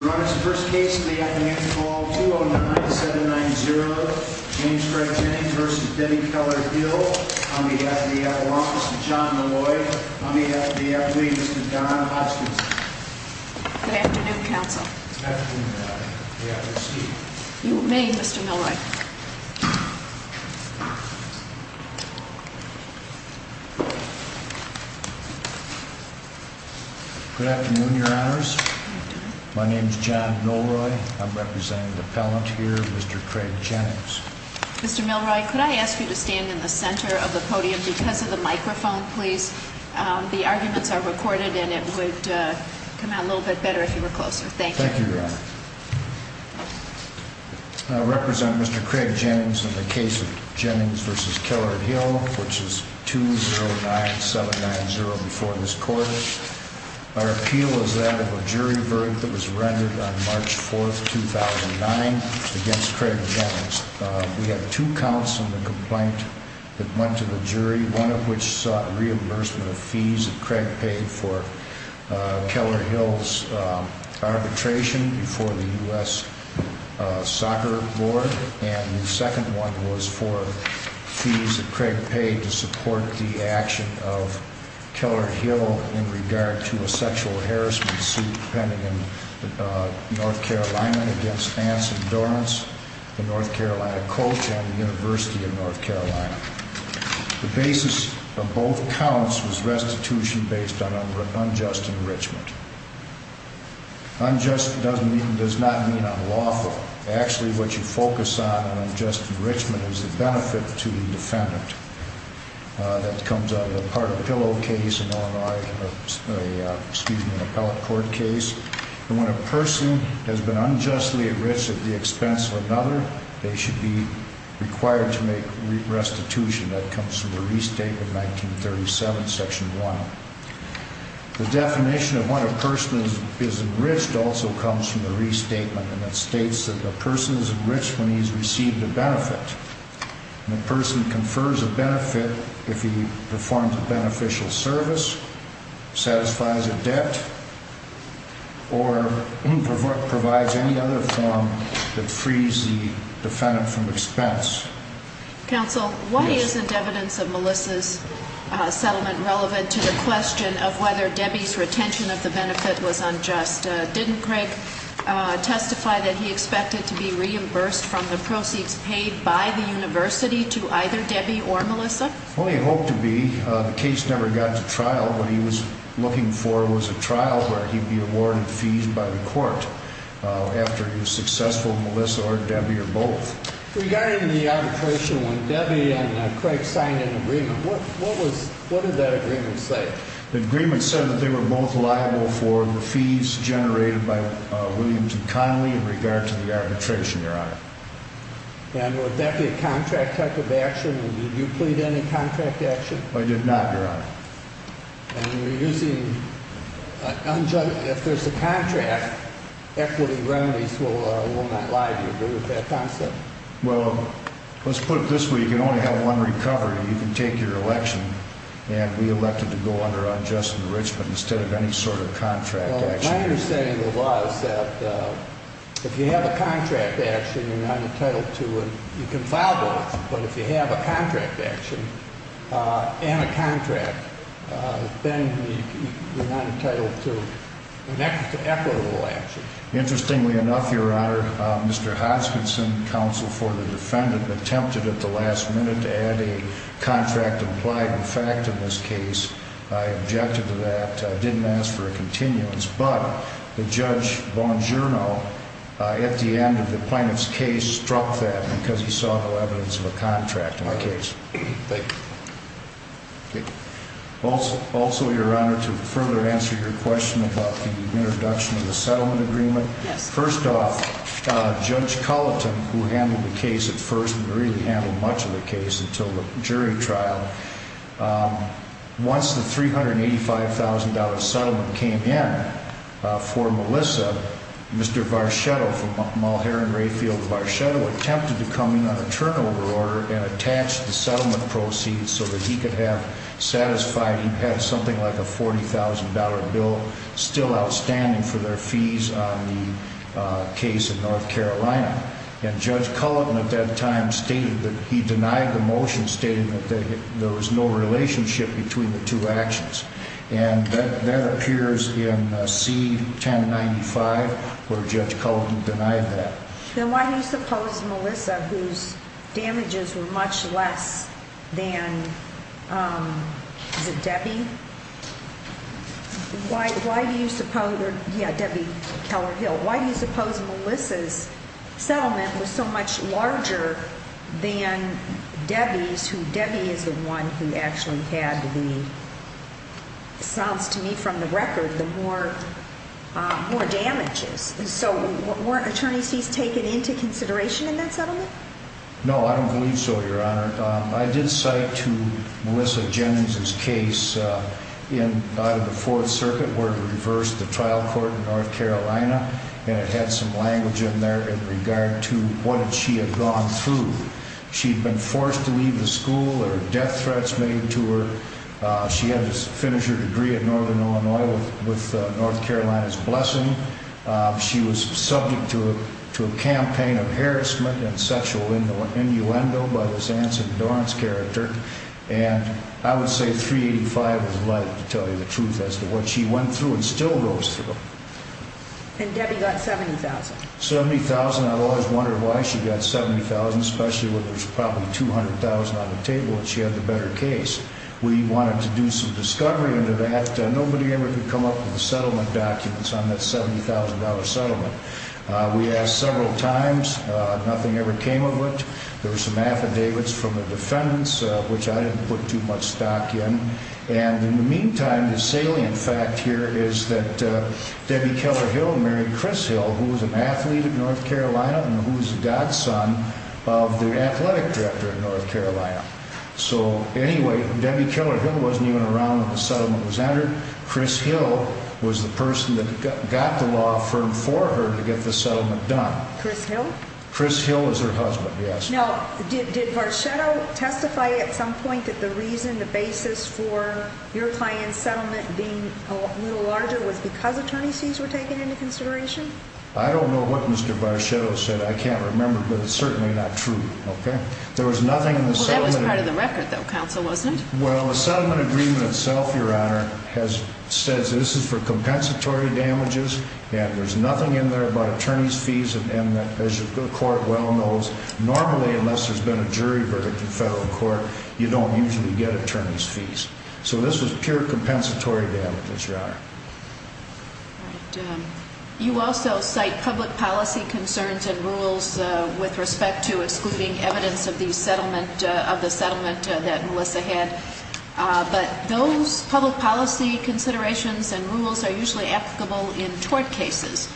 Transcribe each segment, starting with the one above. On behalf of the FDL Law Office and John Milloy, on behalf of the FDL Committee, Mr. Don Hoskinson. Good afternoon, Counsel. Good afternoon, Madam. May I proceed? You may, Mr. Milloy. Good afternoon, Your Honors. My name is John Millroy. I'm representing the appellant here, Mr. Craig Jennings. Mr. Millroy, could I ask you to stand in the center of the podium because of the microphone, please? The arguments are recorded and it would come out a little bit better if you were closer. Thank you. Thank you, Your Honor. I represent Mr. Craig Jennings in the case of Jennings v. Keller Hill, which is 209790 before this court. Our appeal is that of a jury verdict that was rendered on March 4, 2009 against Craig Jennings. We have two counts in the complaint that went to the jury, one of which sought reimbursement of fees that Craig paid for the U.S. Soccer Board, and the second one was for fees that Craig paid to support the action of Keller Hill in regard to a sexual harassment suit pending in North Carolina against Anson Dorrance, a North Carolina coach, and the University of North Carolina. The basis of both counts was restitution based on unjust enrichment. Unjust does not mean unlawful. Actually, what you focus on in unjust enrichment is the benefit to the defendant. That comes out of the part-of-the-pillow case in Illinois, excuse me, an appellate court case. When a person has been unjustly enriched at the expense of another, they should be required to make restitution. That comes from the Restatement of 1937, Section 1. The definition of what a person is enriched also comes from the Restatement, and it states that a person is enriched when he has received a benefit, and a person confers a benefit if he performs a beneficial service, satisfies a debt, or provides any other form that frees the defendant from expense. Counsel, why isn't evidence of Melissa's settlement relevant to the question of whether Debbie's retention of the benefit was unjust? Didn't Craig testify that he expected to be reimbursed from the proceeds paid by the university to either Debbie or Melissa? Well, he hoped to be. The case never got to trial. What he was looking for was a trial where he'd be awarded fees by the court after it was successful, Melissa or Debbie or both. Regarding the arbitration, when Debbie and Craig signed an agreement, what did that agreement say? The agreement said that they were both liable for the fees generated by Williams and Connolly in regard to the arbitration, Your Honor. And would that be a contract type of action? Did you plead any contract action? I did not, Your Honor. If there's a contract, equity remedies will not lie to you. Do you agree with that concept? Well, let's put it this way. You can only have one recovery. You can take your election and be elected to go under unjust enrichment instead of any sort of contract action. My understanding was that if you have a contract action, you're not entitled to it. You can file both, but if you have a contract action and a contract, then you're not entitled to equitable action. Interestingly enough, Your Honor, Mr. Hodgkinson, counsel for the defendant, attempted at the last minute to add a contract implied in fact in this case. I objected to that. I didn't ask for a continuance. But Judge Bongiorno, at the end of the plaintiff's case, struck that because he saw no evidence of a contract in the case. Thank you. Also, Your Honor, to further answer your question about the introduction of the settlement agreement, first off, Judge Culleton, who handled the case at first and really handled much of the case until the jury trial, once the $385,000 settlement came in for Melissa, Mr. Varchetto from Mulherrin-Rayfield, Varchetto attempted to come in on a turnover order and attach the settlement proceeds so that he could have satisfied he had something like a $40,000 bill still outstanding for their fees on the case in North Carolina. And Judge Culleton at that time stated that he denied the motion stating that there was no relationship between the two actions. And that appears in C-1095 where Judge Culleton denied that. Then why do you suppose Melissa, whose damages were much less than, is it Debbie? Why do you suppose, or yeah, Debbie Keller-Hill, why do you suppose Melissa's settlement was so much larger than Debbie's, who Debbie is the one who actually had the, sounds to me from the record, the more damages? So weren't attorneys fees taken into consideration in that settlement? No, I don't believe so, Your Honor. I did cite to Melissa Jennings' case out of the Fourth Circuit where it reversed the trial court in North Carolina and it had some language in there in regard to what she had gone through. She'd been forced to leave the school, there were death threats made to her. She had to finish her degree at Northern Illinois with North Carolina's blessing. She was subject to a campaign of harassment and sexual innuendo by this Anson Dorrance character. And I would say 385 was likely to tell you the truth as to what she went through and still goes through. And Debbie got $70,000. $70,000. I've always wondered why she got $70,000, especially when there's probably $200,000 on the table and she had the better case. We wanted to do some discovery into that. Nobody ever could come up with the settlement documents on that $70,000 settlement. We asked several times. Nothing ever came of it. There were some affidavits from the defendants, which I didn't put too much stock in. And in the meantime, the salient fact here is that Debbie Keller Hill married Chris Hill, who was an athlete in North Carolina and who was the godson of the athletic director in North Carolina. So anyway, Debbie Keller Hill wasn't even around when the settlement was entered. Chris Hill was the person that got the law firm for her to get the settlement done. Chris Hill? Chris Hill was her husband, yes. Now, did Barchetto testify at some point that the reason, the basis for your client's settlement being a little larger was because attorney's fees were taken into consideration? I don't know what Mr. Barchetto said. I can't remember, but it's certainly not true. Well, that was part of the record, though, counsel, wasn't it? Well, the settlement agreement itself, Your Honor, says this is for compensatory damages, and there's nothing in there about attorney's fees. And as the court well knows, normally, unless there's been a jury verdict in federal court, you don't usually get attorney's fees. So this was pure compensatory damages, Your Honor. All right. You also cite public policy concerns and rules with respect to excluding evidence of the settlement that Melissa had. But those public policy considerations and rules are usually applicable in tort cases.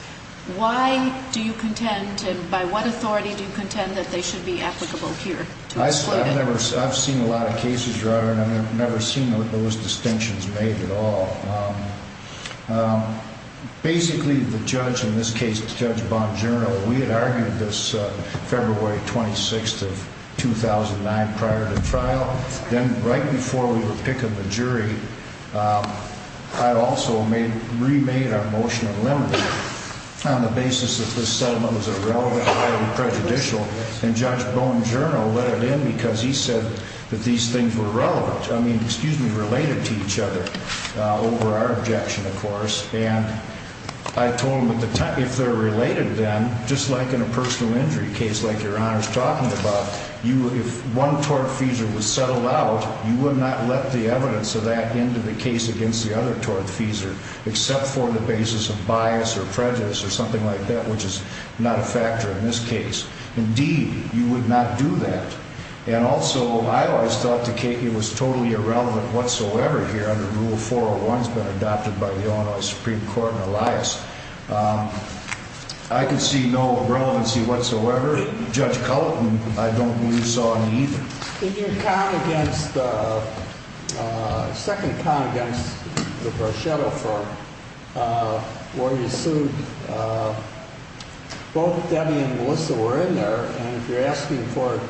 Why do you contend, and by what authority do you contend that they should be applicable here? I've seen a lot of cases, Your Honor, and I've never seen those distinctions made at all. Basically, the judge in this case, Judge Bongiorno, we had argued this February 26th of 2009 prior to trial. Then right before we were picking the jury, I also remade our motion of limiting on the basis that this settlement was irrelevant, highly prejudicial. And Judge Bongiorno let it in because he said that these things were relevant. I mean, excuse me, related to each other over our objection, of course. And I told him at the time, if they're related then, just like in a personal injury case like Your Honor's talking about, if one tortfeasor was settled out, you would not let the evidence of that into the case against the other tortfeasor, except for the basis of bias or prejudice or something like that, which is not a factor in this case. Indeed, you would not do that. And also, I always thought it was totally irrelevant whatsoever here under Rule 401. It's been adopted by the Illinois Supreme Court and Elias. I can see no relevancy whatsoever. Judge Culleton, I don't believe so either. In your second count against the Barchetto firm, where you sued, both Debbie and Melissa were in there, and if you're asking for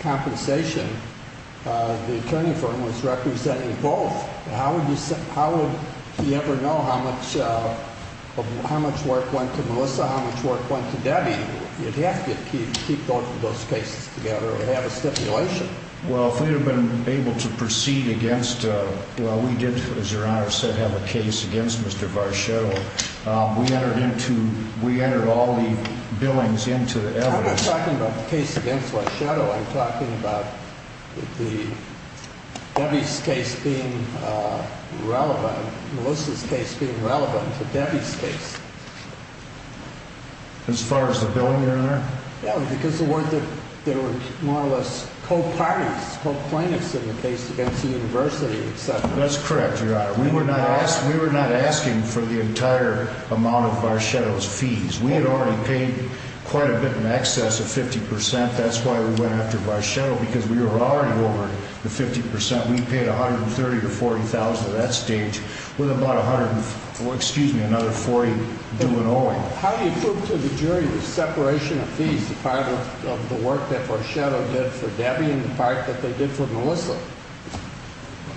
compensation, the attorney firm was representing both. How would he ever know how much work went to Melissa, how much work went to Debbie? You'd have to keep both of those cases together and have a stipulation. Well, if we had been able to proceed against, well, we did, as Your Honor said, have a case against Mr. Barchetto, we entered all the billings into the evidence. I'm not talking about the case against Barchetto. I'm talking about Debbie's case being relevant, Melissa's case being relevant to Debbie's case. As far as the billing, Your Honor? Yeah, because there were more or less co-parties, co-plaintiffs in the case against the university, et cetera. That's correct, Your Honor. We were not asking for the entire amount of Barchetto's fees. We had already paid quite a bit in excess of 50%. That's why we went after Barchetto, because we were already over the 50%. We paid $130,000 to $40,000 at that stage with about another $40,000 due in Owing. How do you prove to the jury the separation of fees, the part of the work that Barchetto did for Debbie and the part that they did for Melissa?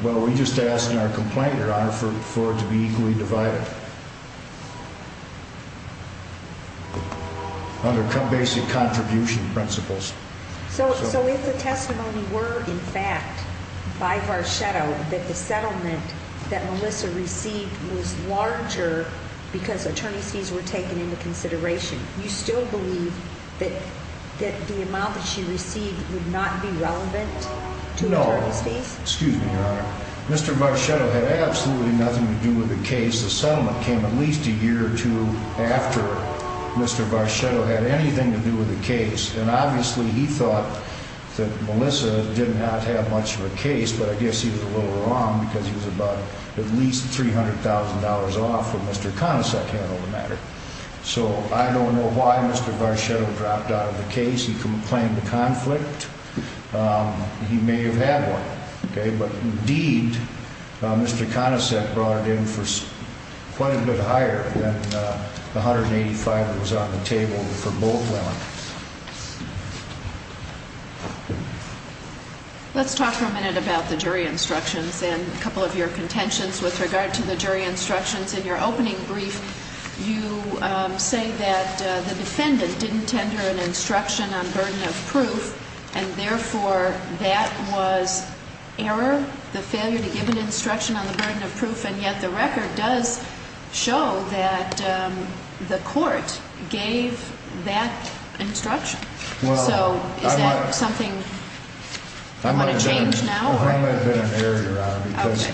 Well, we just asked in our complaint, Your Honor, for it to be equally divided under basic contribution principles. So if the testimony were, in fact, by Barchetto that the settlement that Melissa received was larger because attorney's fees were taken into consideration, you still believe that the amount that she received would not be relevant to attorney's fees? No. Excuse me, Your Honor. Mr. Barchetto had absolutely nothing to do with the case. The settlement came at least a year or two after Mr. Barchetto had anything to do with the case. And obviously he thought that Melissa did not have much of a case. But I guess he was a little wrong, because he was about at least $300,000 off when Mr. Conicek handled the matter. So I don't know why Mr. Barchetto dropped out of the case. He complained of conflict. He may have had one. But indeed, Mr. Conicek brought it in for quite a bit higher than the $185,000 that was on the table for both women. Let's talk for a minute about the jury instructions and a couple of your contentions with regard to the jury instructions. In your opening brief, you say that the defendant didn't tender an instruction on burden of proof, and therefore that was error, the failure to give an instruction on the burden of proof, and yet the record does show that the court gave that instruction. So is that something you want to change now? I don't know how that would have been an error, Your Honor, because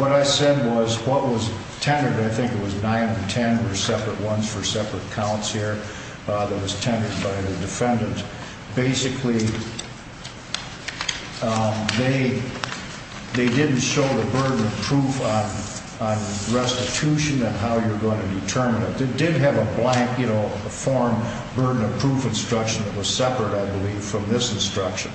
what I said was what was tendered, I think it was 9 and 10, were separate ones for separate counts here, that was tendered by the defendant. Basically, they didn't show the burden of proof on restitution and how you're going to determine it. It did have a blank, you know, a form, burden of proof instruction that was separate, I believe, from this instruction.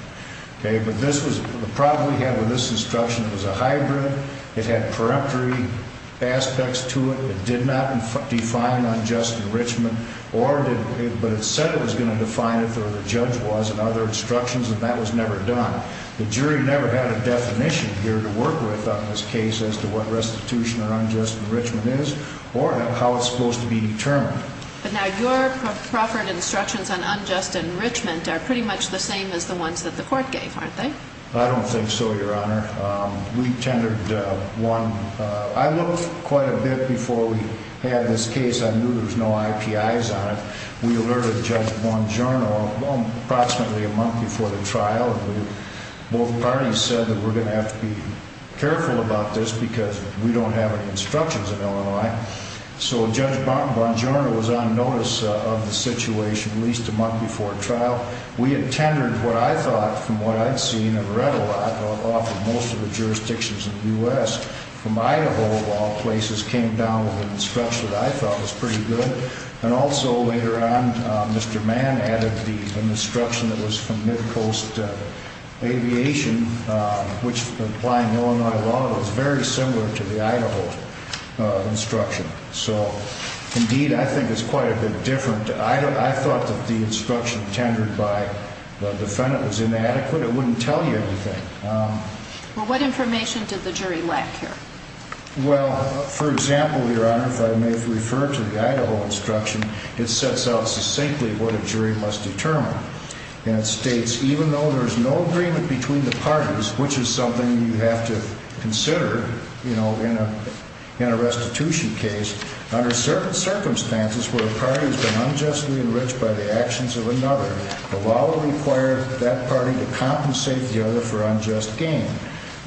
But the problem we had with this instruction was a hybrid. It had preemptory aspects to it. It did not define unjust enrichment, but it said it was going to define it, or the judge was, and other instructions, and that was never done. The jury never had a definition here to work with on this case as to what restitution or unjust enrichment is or how it's supposed to be determined. But now your proffered instructions on unjust enrichment are pretty much the same as the ones that the court gave, aren't they? I don't think so, Your Honor. We tendered one. I looked quite a bit before we had this case. I knew there was no IPIs on it. We alerted Judge Bongiorno approximately a month before the trial. Both parties said that we're going to have to be careful about this because we don't have any instructions in Illinois. So Judge Bongiorno was on notice of the situation at least a month before trial. We had tendered what I thought, from what I'd seen and read a lot off of most of the jurisdictions in the U.S. From Idaho, all places came down with an instruction that I thought was pretty good. And also later on, Mr. Mann added an instruction that was from Midcoast Aviation, which, applying Illinois law, was very similar to the Idaho instruction. So, indeed, I think it's quite a bit different. I thought that the instruction tendered by the defendant was inadequate. It wouldn't tell you anything. Well, what information did the jury lack here? Well, for example, Your Honor, if I may have referred to the Idaho instruction, it sets out succinctly what a jury must determine. And it states, even though there's no agreement between the parties, which is something you have to consider, you know, in a restitution case, under certain circumstances where a party has been unjustly enriched by the actions of another, the law will require that party to compensate the other for unjust gain.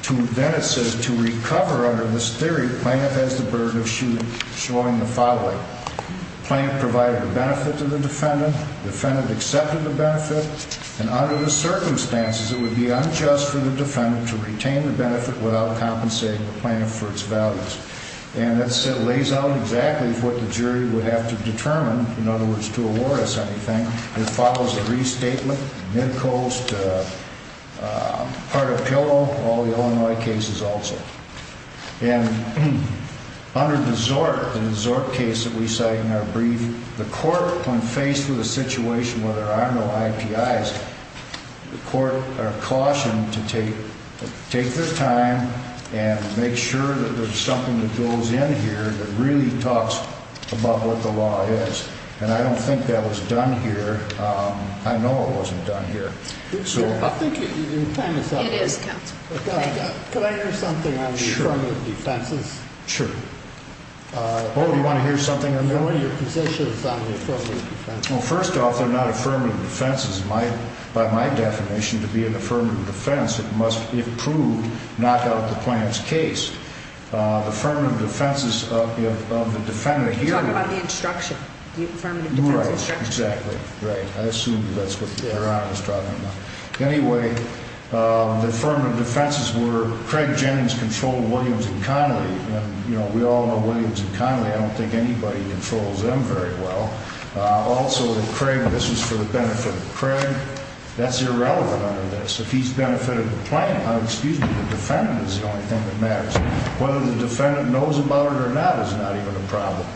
Then it says, to recover under this theory, the plaintiff has the burden of showing the following. The plaintiff provided the benefit to the defendant. The defendant accepted the benefit. And under the circumstances, it would be unjust for the defendant to retain the benefit without compensating the plaintiff for its values. And it lays out exactly what the jury would have to determine, in other words, to award us anything. It follows a restatement, mid-coast, part of pillow, all the Illinois cases also. And under the Zork, the Zork case that we cite in our brief, the court, when faced with a situation where there are no IPIs, the court are cautioned to take their time and make sure that there's something that goes in here that really talks about what the law is. And I don't think that was done here. I know it wasn't done here. I think your time is up. It is, counsel. Thank you. Could I hear something on the affirmative defenses? Sure. Sure. Oh, do you want to hear something or not? What are your positions on the affirmative defenses? Well, first off, they're not affirmative defenses. By my definition, to be an affirmative defense, it must, if proved, knock out the plaintiff's case. The affirmative defenses of the defendant here... You're talking about the instruction, the affirmative defense instruction. Right. Exactly. Right. I assumed that's what Aaron was talking about. Anyway, the affirmative defenses were Craig Jennings controlled Williams and Connolly. And, you know, we all know Williams and Connolly. I don't think anybody controls them very well. Also, with Craig, this is for the benefit of Craig. That's irrelevant under this. If he's benefited the plaintiff, excuse me, the defendant is the only thing that matters. Whether the defendant knows about it or not is not even a problem.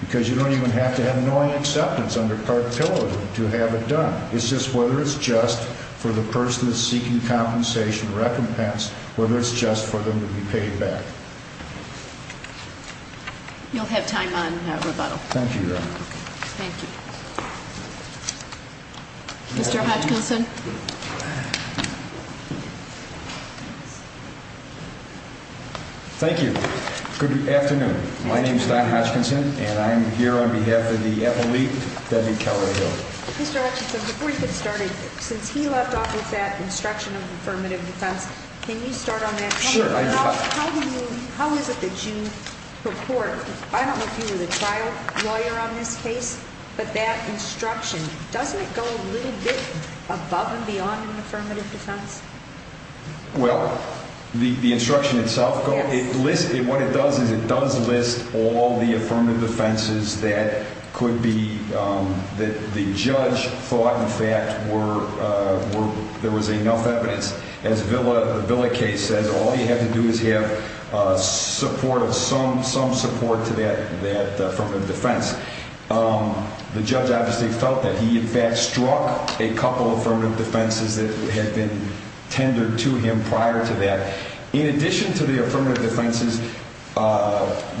Because you don't even have to have knowing acceptance under cartelism to have it done. It's just whether it's just for the person that's seeking compensation or recompense, whether it's just for them to be paid back. You'll have time on rebuttal. Thank you, Your Honor. Thank you. Mr. Hodgkinson. Thank you. Good afternoon. My name is Don Hodgkinson, and I'm here on behalf of the appellee, Debbie Callaway-Hill. Mr. Hodgkinson, before you get started, since he left off with that instruction of affirmative defense, can you start on that? Sure. How is it that you report? I don't know if you were the trial lawyer on this case, but that instruction, doesn't it go a little bit above and beyond an affirmative defense? Well, the instruction itself, what it does is it does list all the affirmative defenses that the judge thought, in fact, there was enough evidence. As the Villa case says, all you have to do is have some support to that affirmative defense. The judge obviously felt that. He, in fact, struck a couple affirmative defenses that had been tendered to him prior to that. In addition to the affirmative defenses,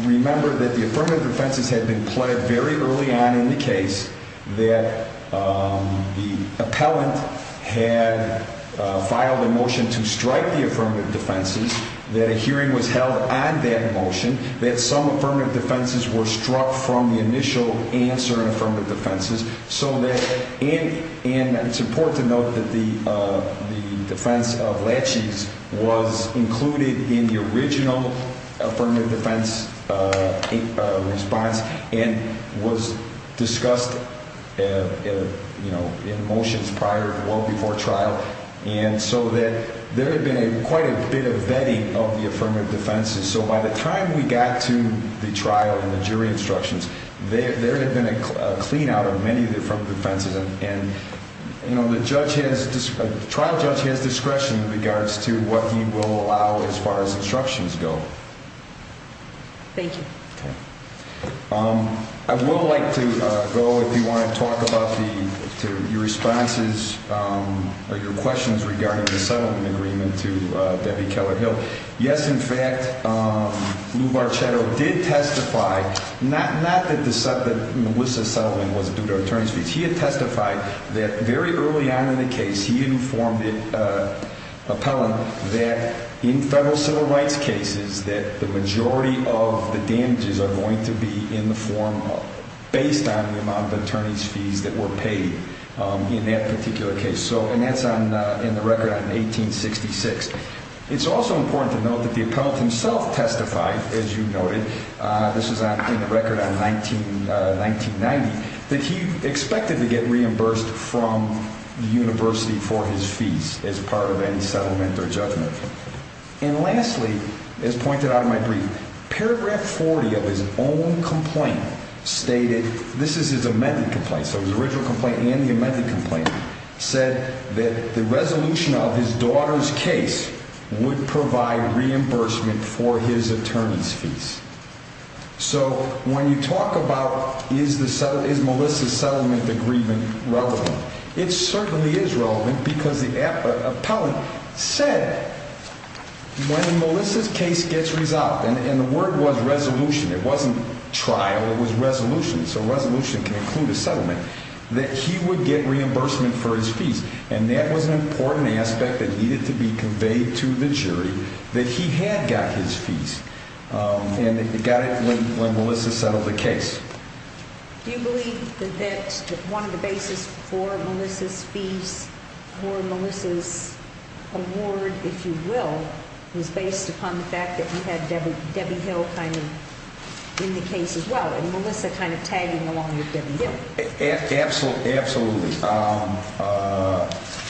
remember that the affirmative defenses had been pled very early on in the case that the appellant had filed a motion to strike the affirmative defenses, that a hearing was held on that motion, that some affirmative defenses were struck from the initial answer in affirmative defenses, and it's important to note that the defense of Latchey's was included in the original affirmative defense response and was discussed in motions prior to or before trial, and so there had been quite a bit of vetting of the affirmative defenses. So by the time we got to the trial and the jury instructions, there had been a clean-out of many of the affirmative defenses, and the trial judge has discretion in regards to what he will allow as far as instructions go. Thank you. I would like to go, if you want to talk about your responses or your questions regarding the settlement agreement to Debbie Keller Hill. Yes, in fact, Lou Barchetto did testify, not that Melissa's settlement was due to an attorney's fees. He had testified that very early on in the case, he informed the appellant that in federal civil rights cases, that the majority of the damages are going to be in the form based on the amount of attorney's fees that were paid in that particular case, and that's in the record on 1866. It's also important to note that the appellant himself testified, as you noted, this is in the record on 1990, that he expected to get reimbursed from the university for his fees as part of any settlement or judgment. And lastly, as pointed out in my brief, paragraph 40 of his own complaint stated, this is his amended complaint, so his original complaint and the amended complaint said that the resolution of his daughter's case would provide reimbursement for his attorney's fees. So when you talk about is Melissa's settlement agreement relevant, it certainly is relevant because the appellant said when Melissa's case gets resolved, and the word was resolution, it wasn't trial, it was resolution, so resolution can include a settlement, that he would get reimbursement for his fees, and that was an important aspect that needed to be conveyed to the jury that he had got his fees, and he got it when Melissa settled the case. Do you believe that one of the basis for Melissa's fees, for Melissa's award, if you will, was based upon the fact that you had Debbie Hill kind of in the case as well, and Melissa kind of tagging along with Debbie Hill? Absolutely.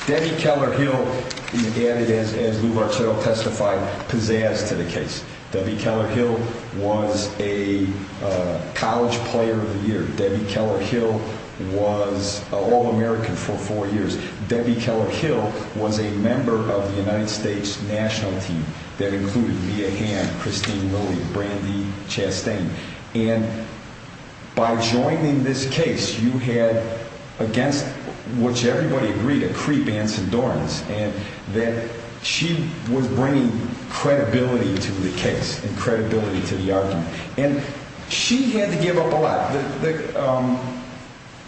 Debbie Keller Hill, as Lou Bartel testified, pizzazzed to the case. Debbie Keller Hill was a college player of the year. Debbie Keller Hill was an All-American for four years. Debbie Keller Hill was a member of the United States national team that included Mia Hamm, Christine Lilly, Brandi Chastain. And by joining this case, you had, against which everybody agreed, a creep, Anson Dorans, and that she was bringing credibility to the case and credibility to the argument. And she had to give up a lot.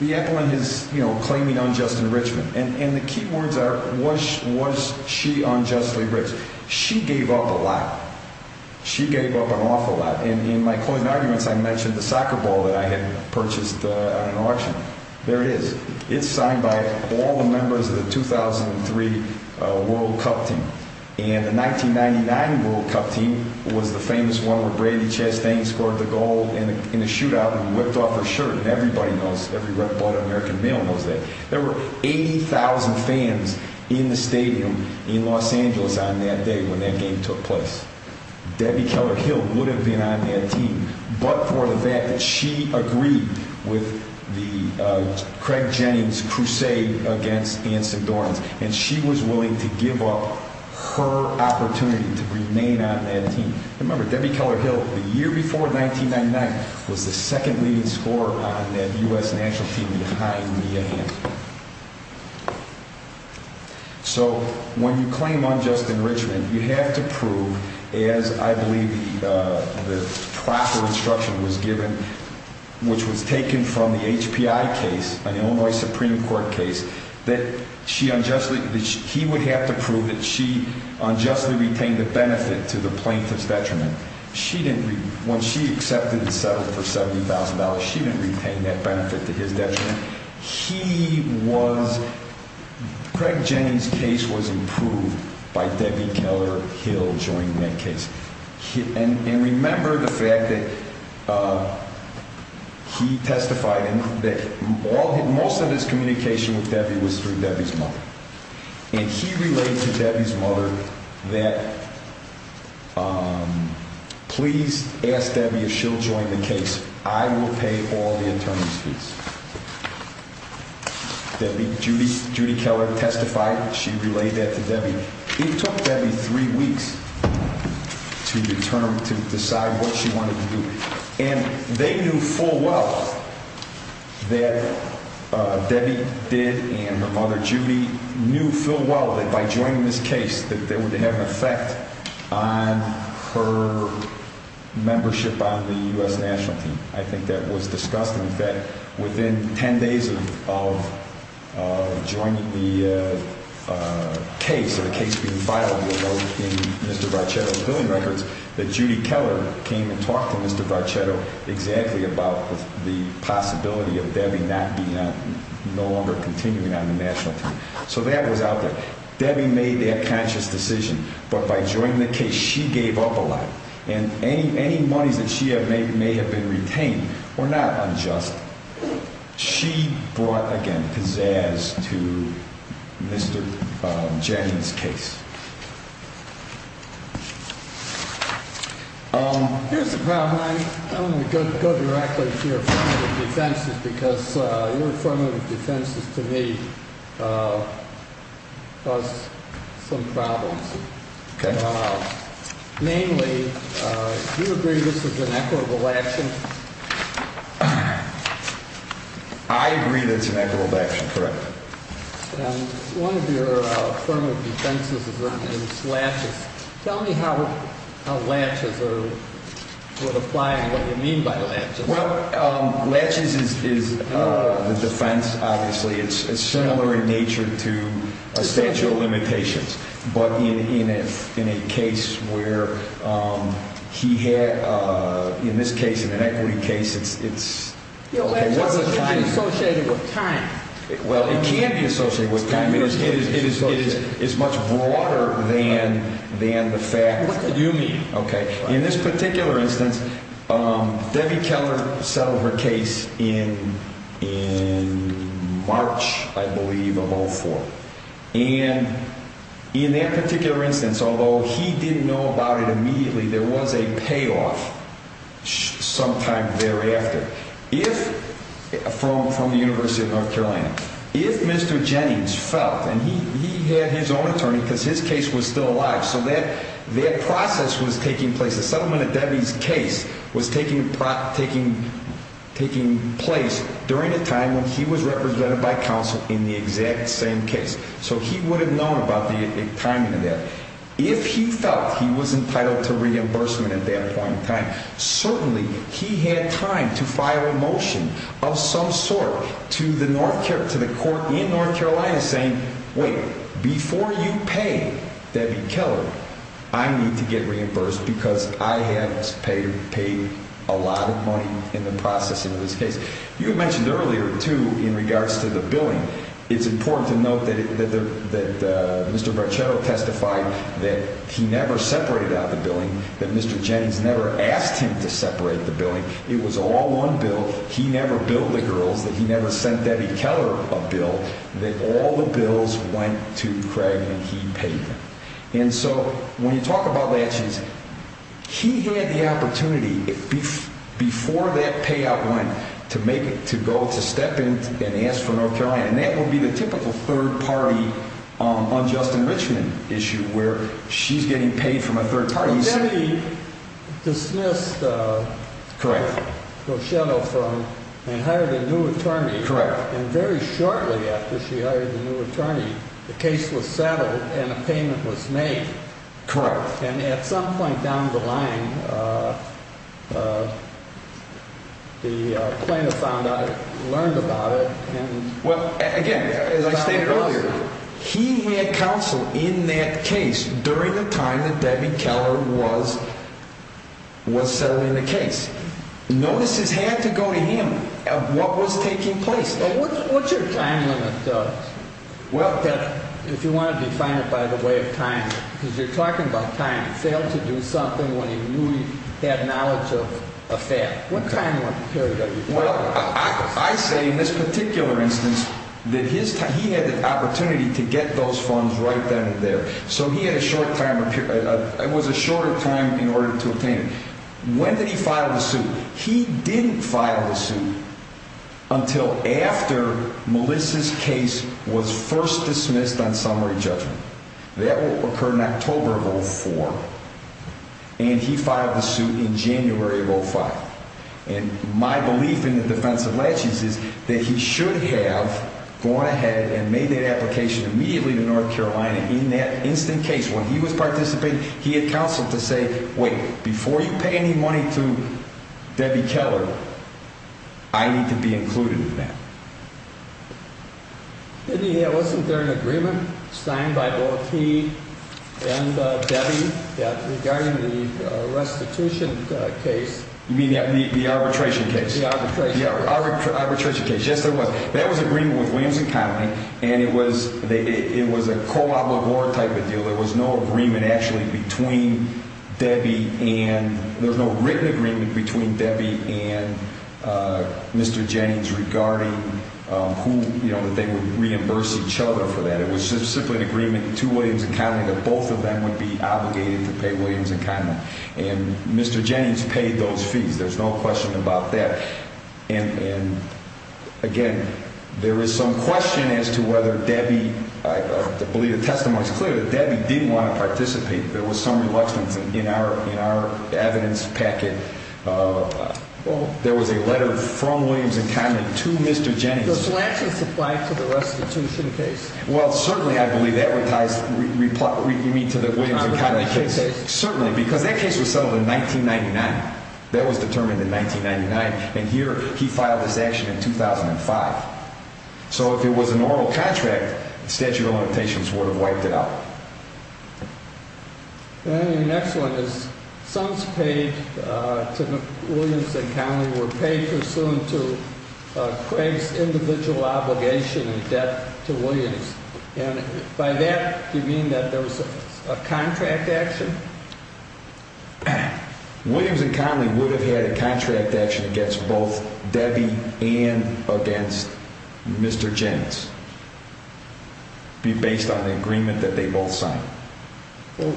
The appellant is claiming unjust enrichment, and the key words are, was she unjustly enriched? She gave up a lot. She gave up an awful lot. And in my closing arguments, I mentioned the soccer ball that I had purchased at an auction. There it is. It's signed by all the members of the 2003 World Cup team. And the 1999 World Cup team was the famous one where Brandi Chastain scored the goal in the shootout and whipped off her shirt. And everybody knows, every red-blooded American male knows that. There were 80,000 fans in the stadium in Los Angeles on that day when that game took place. Debbie Keller Hill would have been on that team, but for the fact that she agreed with Craig Jennings' crusade against Anson Dorans, and she was willing to give up her opportunity to remain on that team. Remember, Debbie Keller Hill, the year before 1999, was the second-leading scorer on that U.S. national team behind Mia Hammond. So, when you claim unjust enrichment, you have to prove, as I believe the proper instruction was given, which was taken from the HPI case, an Illinois Supreme Court case, that he would have to prove that she unjustly retained the benefit to the plaintiff's detriment. When she accepted and settled for $70,000, she didn't retain that benefit to his detriment. Craig Jennings' case was improved by Debbie Keller Hill joining that case. And remember the fact that he testified that most of his communication with Debbie was through Debbie's mother. And he relayed to Debbie's mother that, please ask Debbie if she'll join the case. I will pay all the attorney's fees. Debbie, Judy Keller testified. She relayed that to Debbie. It took Debbie three weeks to determine, to decide what she wanted to do. And they knew full well that Debbie did, and her mother Judy knew full well that by joining this case, that they would have an effect on her membership on the U.S. national team. I think that was discussed in effect within ten days of joining the case, of the case being filed in Mr. Varchetto's billing records, that Judy Keller came and talked to Mr. Varchetto exactly about the possibility of Debbie not being on, no longer continuing on the national team. So that was out there. Debbie made that conscious decision. But by joining the case, she gave up a lot. And any monies that she had made may have been retained or not unjust. She brought, again, pizzazz to Mr. Jennings' case. Here's the problem. I'm going to go directly to your affirmative defenses because your affirmative defenses to me cause some problems. Namely, do you agree this is an equitable action? I agree that it's an equitable action, correct. One of your affirmative defenses is Latches. Tell me how Latches would apply and what you mean by Latches. Well, Latches is the defense, obviously. It's similar in nature to a statute of limitations. But in a case where he had, in this case, in an equity case, it's... Latches can be associated with time. Well, it can be associated with time. It is much broader than the fact... What do you mean? Okay. In this particular instance, Debbie Keller settled her case in March, I believe, of 2004. And in that particular instance, although he didn't know about it immediately, there was a payoff sometime thereafter. From the University of North Carolina. If Mr. Jennings felt, and he had his own attorney because his case was still alive, so that process was taking place. The settlement of Debbie's case was taking place during a time when he was represented by counsel in the exact same case. So he would have known about the timing of that. If he felt he was entitled to reimbursement at that point in time, certainly he had time to file a motion of some sort to the court in North Carolina saying, Wait, before you pay Debbie Keller, I need to get reimbursed because I have paid a lot of money in the process in this case. You mentioned earlier, too, in regards to the billing, it's important to note that Mr. Bracero testified that he never separated out the billing. That Mr. Jennings never asked him to separate the billing. It was all one bill. He never billed the girls. That he never sent Debbie Keller a bill. That all the bills went to Craig and he paid them. And so when you talk about that, he had the opportunity before that payout went to go to step in and ask for North Carolina. And that would be the typical third party unjust enrichment issue where she's getting paid from a third party. Debbie dismissed Bracero and hired a new attorney. And very shortly after she hired the new attorney, the case was settled and a payment was made. And at some point down the line, the plaintiff found out, learned about it. Well, again, as I stated earlier, he had counsel in that case during the time that Debbie Keller was settling the case. Notices had to go to him of what was taking place. What's your time limit, if you want to define it by the way of time? Because you're talking about time. He failed to do something when he knew he had knowledge of a fail. What time period are you talking about? Well, I say in this particular instance that he had the opportunity to get those funds right then and there. So he had a short time. It was a shorter time in order to obtain. When did he file the suit? He didn't file the suit until after Melissa's case was first dismissed on summary judgment. That occurred in October of 04. And he filed the suit in January of 05. And my belief in the defense of latches is that he should have gone ahead and made that application immediately to North Carolina in that instant case. When he was participating, he had counsel to say, wait, before you pay any money to Debbie Keller, I need to be included in that. Wasn't there an agreement signed by O.T. and Debbie regarding the restitution case? You mean the arbitration case? The arbitration case. The arbitration case. Yes, there was. That was an agreement with Williams & Connolly, and it was a co-obligor type of deal. There was no written agreement between Debbie and Mr. Jennings regarding that they would reimburse each other for that. It was simply an agreement to Williams & Connolly that both of them would be obligated to pay Williams & Connolly. And Mr. Jennings paid those fees. There's no question about that. And, again, there is some question as to whether Debbie, I believe the testimony is clear, that Debbie didn't want to participate. There was some reluctance in our evidence packet. There was a letter from Williams & Connolly to Mr. Jennings. The latches applied to the restitution case. Well, certainly I believe that would tie me to the Williams & Connolly case. Certainly, because that case was settled in 1999. That was determined in 1999. And here he filed this action in 2005. So if it was a normal contract, statute of limitations would have wiped it out. The next one is sums paid to Williams & Connolly were paid pursuant to Craig's individual obligation in debt to Williams. And by that, do you mean that there was a contract action? Williams & Connolly would have had a contract action against both Debbie and against Mr. Jennings based on the agreement that they both signed. Well,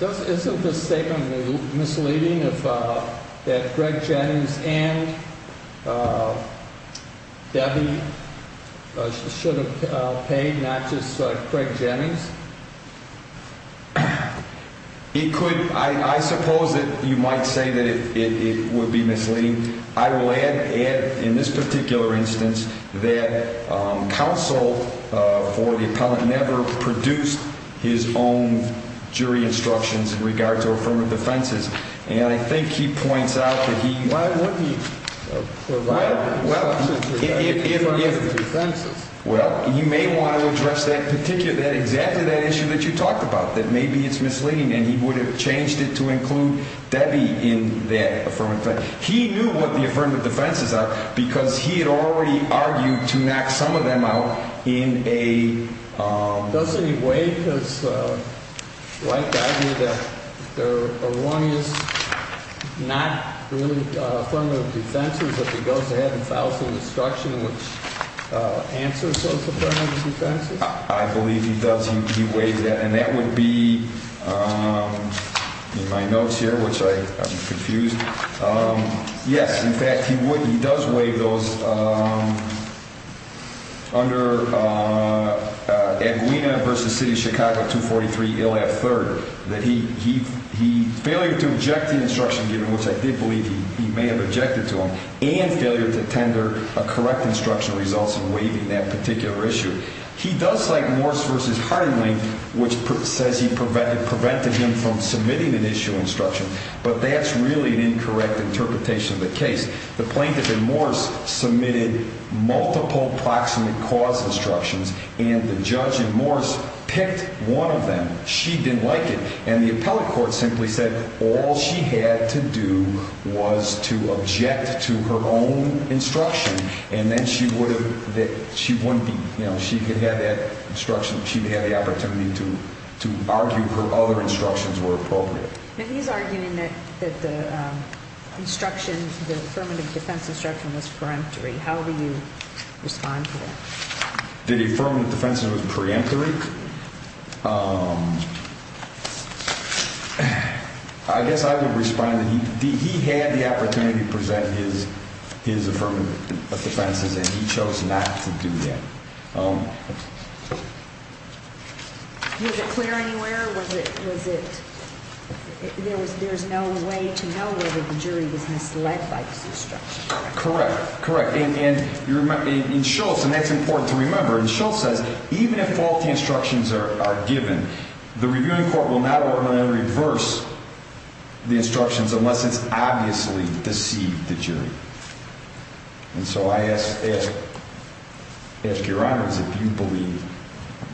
isn't the statement misleading that Craig Jennings and Debbie should have paid not just Craig Jennings? I suppose that you might say that it would be misleading. I will add in this particular instance that counsel for the appellant never produced his own jury instructions in regards to affirmative defenses. And I think he points out that he... Well, why wouldn't he provide the instructions for the affirmative defenses? Well, he may want to address exactly that issue that you talked about, that maybe it's misleading. And he would have changed it to include Debbie in that affirmative defense. He knew what the affirmative defenses are because he had already argued to knock some of them out in a... Doesn't he waive his right to argue that there are one is not really affirmative defenses if he goes ahead and files an instruction which answers those affirmative defenses? I believe he does. He waives that. And that would be in my notes here, which I'm confused. Yes, in fact, he does waive those under Aguina v. City of Chicago 243, ILF 3rd, that he... Failure to object to the instruction given, which I did believe he may have objected to them, and failure to tender a correct instruction results in waiving that particular issue. He does like Morse v. Harding, which says he prevented him from submitting an issue instruction, but that's really an incorrect interpretation of the case. The plaintiff in Morse submitted multiple proximate cause instructions, and the judge in Morse picked one of them. She didn't like it, and the appellate court simply said all she had to do was to object to her own instruction. And then she wouldn't be, you know, she could have that instruction. She would have the opportunity to argue her other instructions were appropriate. But he's arguing that the instruction, the affirmative defense instruction was preemptory. How do you respond to that? Did he affirm that the defense instruction was preemptory? I guess I would respond that he had the opportunity to present his affirmative defenses, and he chose not to do that. Was it clear anywhere? Was it there was no way to know whether the jury was misled by this instruction? Correct, correct. And Schultz, and that's important to remember, and Schultz says even if faulty instructions are given, the reviewing court will not ordinarily reverse the instructions unless it's obviously deceived the jury. And so I ask your honors if you believe,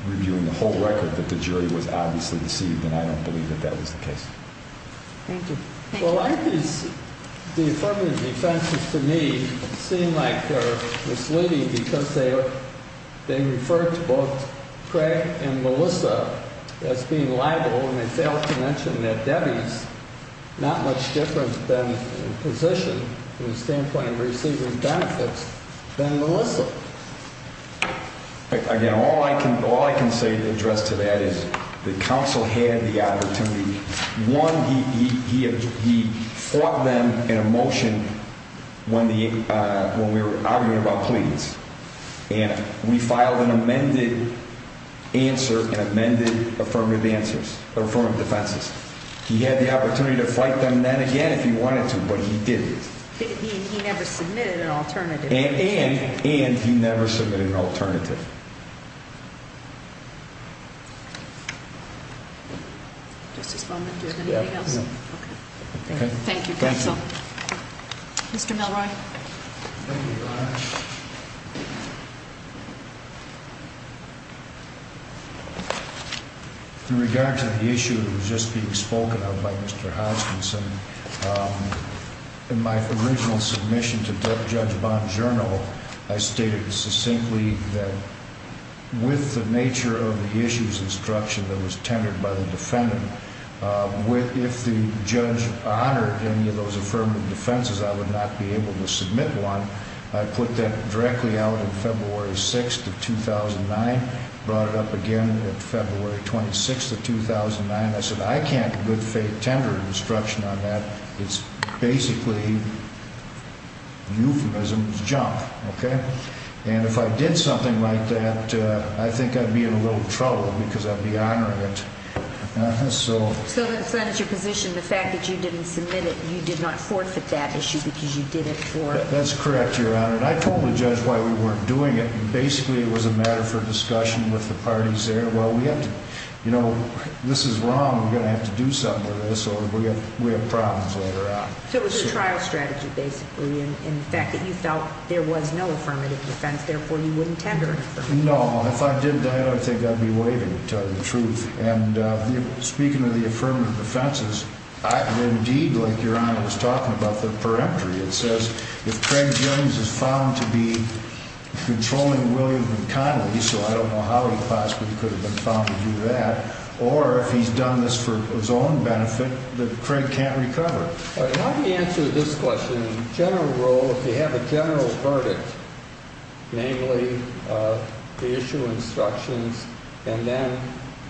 reviewing the whole record, that the jury was obviously deceived, and I don't believe that that was the case. Thank you. Well, I think the affirmative defenses to me seem like they're misleading because they refer to both Craig and Melissa as being liable, and they fail to mention that Debbie's not much different in position from the standpoint of receiving benefits than Melissa. Again, all I can say to address to that is the counsel had the opportunity. One, he fought them in a motion when we were arguing about pleadings, and we filed an amended answer and amended affirmative defenses. He had the opportunity to fight them then again if he wanted to, but he didn't. He never submitted an alternative. And he never submitted an alternative. Just this moment. Do you have anything else? No. Okay. Thank you, counsel. Thank you. Mr. Melroy. Thank you, Your Honor. In regard to the issue that was just being spoken of by Mr. Hodgkinson, in my original submission to Judge Bong's journal, I stated succinctly that with the nature of the issues instruction that was tendered by the defendant, if the judge honored any of those affirmative defenses, I would not be able to submit one. I put that directly out on February 6th of 2009, brought it up again on February 26th of 2009. I said, I can't good faith tender instruction on that. It's basically euphemism's jump. Okay? And if I did something like that, I think I'd be in a little trouble because I'd be honoring it. So that is your position, the fact that you didn't submit it, you did not forfeit that issue because you did it for it? That's correct, Your Honor. And I told the judge why we weren't doing it. Basically, it was a matter for discussion with the parties there. You know, this is wrong. We're going to have to do something with this or we have problems later on. So it was a trial strategy, basically, and the fact that you felt there was no affirmative defense, therefore you wouldn't tender it? No. If I did that, I think I'd be waiving, to tell you the truth. And speaking of the affirmative defenses, indeed, like Your Honor was talking about, the peremptory, it says, if Craig Gilliams is found to be controlling William McConnelly, so I don't know how he possibly could have been found to do that, or if he's done this for his own benefit, that Craig can't recover. All right. How do you answer this question? In general rule, if you have a general verdict, namely the issue of instructions and then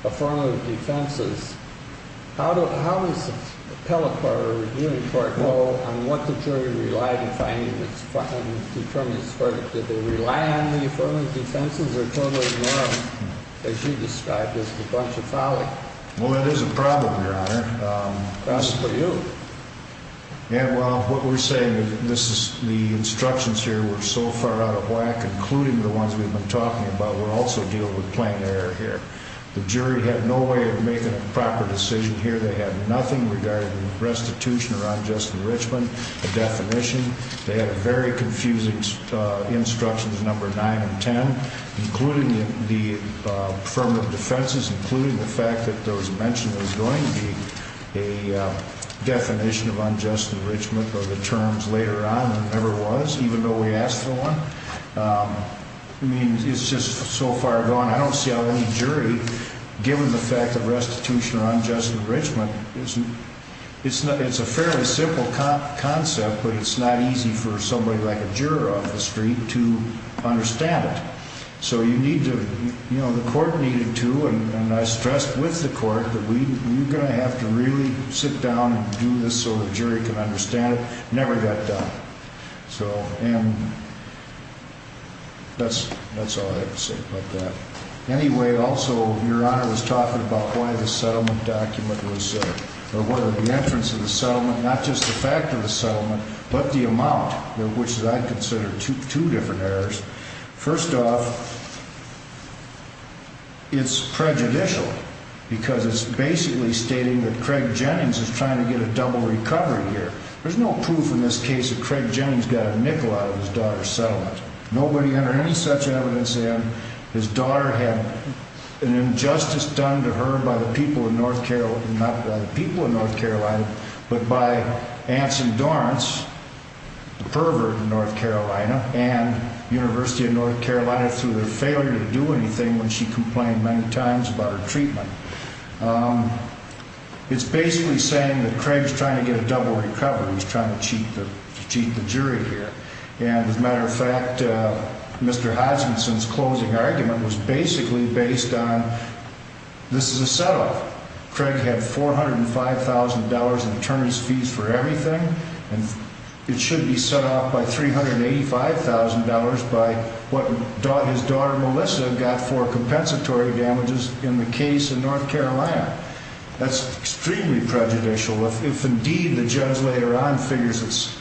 affirmative defenses, how does an appellate court or a reviewing court go on what the jury relied upon in determining this verdict? Did they rely on the affirmative defenses or totally ignored them, as you described, as a bunch of folly? Well, that is a problem, Your Honor. That's for you. Yeah, well, what we're saying is the instructions here were so far out of whack, including the ones we've been talking about, we're also dealing with plain error here. The jury had no way of making a proper decision here. They had nothing regarding restitution or unjust enrichment, a definition. They had very confusing instructions, number 9 and 10, including the affirmative defenses, including the fact that there was a mention there was going to be a definition of unjust enrichment or the terms later on, and there never was, even though we asked for one. I mean, it's just so far gone. I don't see how any jury, given the fact that restitution or unjust enrichment, it's a fairly simple concept, but it's not easy for somebody like a juror off the street to understand it. So you need to, you know, the court needed to, and I stressed with the court that you're going to have to really sit down and do this so the jury can understand it. It never got done. So, and that's all I have to say about that. Anyway, also, Your Honor was talking about why the settlement document was, or whether the entrance of the settlement, not just the fact of the settlement, but the amount, which I consider two different errors. First off, it's prejudicial because it's basically stating that Craig Jennings is trying to get a double recovery here. There's no proof in this case that Craig Jennings got a nickel out of his daughter's settlement. Nobody entered any such evidence in. His daughter had an injustice done to her by the people of North Carolina, not by the people of North Carolina, but by Anson Dorrance, the pervert in North Carolina, and the University of North Carolina through their failure to do anything when she complained many times about her treatment. It's basically saying that Craig's trying to get a double recovery. He's trying to cheat the jury here. And, as a matter of fact, Mr. Hodgkinson's closing argument was basically based on this is a set-off. Craig had $405,000 in attorneys' fees for everything, and it should be set off by $385,000 by what his daughter Melissa got for compensatory damages in the case in North Carolina. That's extremely prejudicial. If, indeed, the judge later on figures it's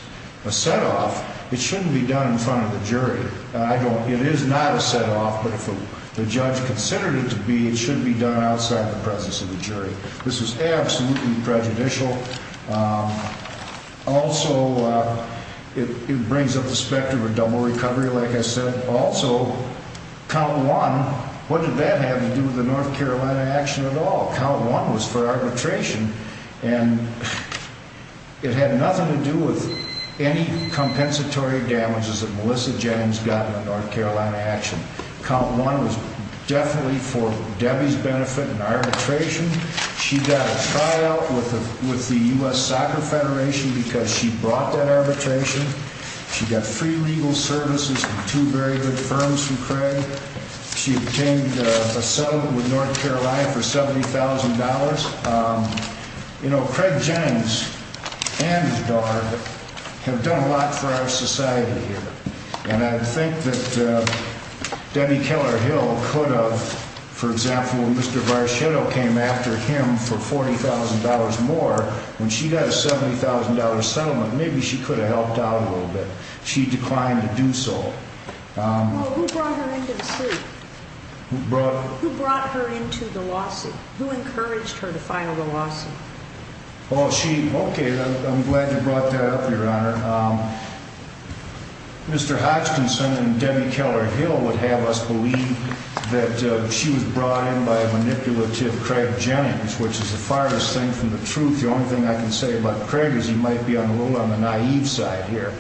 a set-off, it shouldn't be done in front of the jury. It is not a set-off, but if the judge considered it to be, it should be done outside the presence of the jury. This is absolutely prejudicial. Also, it brings up the spectrum of double recovery, like I said. Also, count one, what did that have to do with the North Carolina action at all? Count one was for arbitration, and it had nothing to do with any compensatory damages that Melissa Jennings got in the North Carolina action. Count one was definitely for Debbie's benefit in arbitration. She got a tryout with the U.S. Soccer Federation because she brought that arbitration. She got free legal services from two very good firms from Craig. She obtained a settlement with North Carolina for $70,000. You know, Craig Jennings and his daughter have done a lot for our society here, and I think that Debbie Keller Hill could have, for example, when Mr. Varchetto came after him for $40,000 more, when she got a $70,000 settlement, maybe she could have helped out a little bit. She declined to do so. Well, who brought her into the suit? Who brought? Who brought her into the lawsuit? Who encouraged her to file the lawsuit? Well, she, okay, I'm glad you brought that up, Your Honor. Mr. Hodgkinson and Debbie Keller Hill would have us believe that she was brought in by a manipulative Craig Jennings, which is the farthest thing from the truth. The only thing I can say about Craig is he might be a little on the naive side here.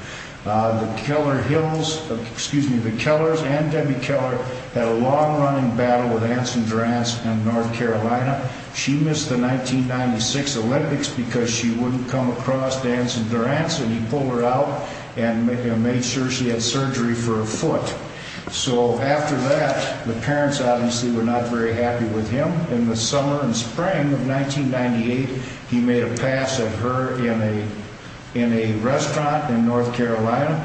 The Keller Hills, excuse me, the Kellers and Debbie Keller had a long-running battle with Anson Durant in North Carolina. She missed the 1996 Olympics because she wouldn't come across Anson Durant, so he pulled her out and made sure she had surgery for a foot. So after that, the parents obviously were not very happy with him. In the summer and spring of 1998, he made a pass at her in a restaurant in North Carolina,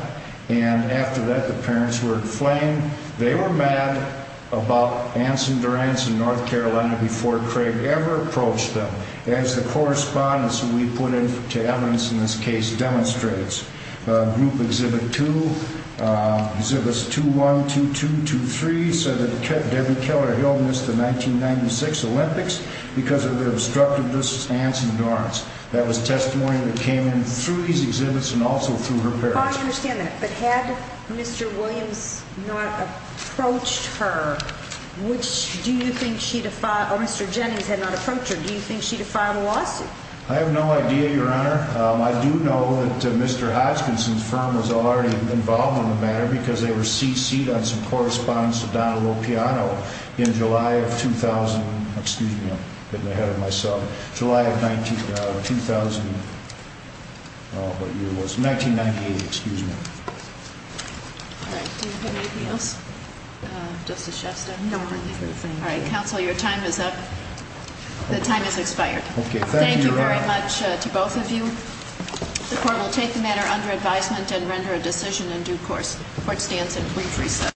and after that, the parents were inflamed. They were mad about Anson Durant in North Carolina before Craig ever approached them, as the correspondence we put into evidence in this case demonstrates. Group Exhibit 2, Exhibits 2-1, 2-2, 2-3 said that Debbie Keller Hill missed the 1996 Olympics because of the obstructiveness of Anson Durant. That was testimony that came in through these exhibits and also through her parents. I understand that, but had Mr. Williams not approached her, do you think she'd have filed a lawsuit? I do know that Mr. Hodgkinson's firm was already involved in the matter because they were cc'd on some correspondence to Donna Lopiano in July of 2000. Excuse me, I'm getting ahead of myself. July of 2000, what year was it? 1998, excuse me. All right, do you have anything else, Justice Shepston? No, I'm good, thank you. All right, counsel, your time is up. The time has expired. Okay, thank you very much. To both of you, the court will take the matter under advisement and render a decision in due course. The court stands in brief recess.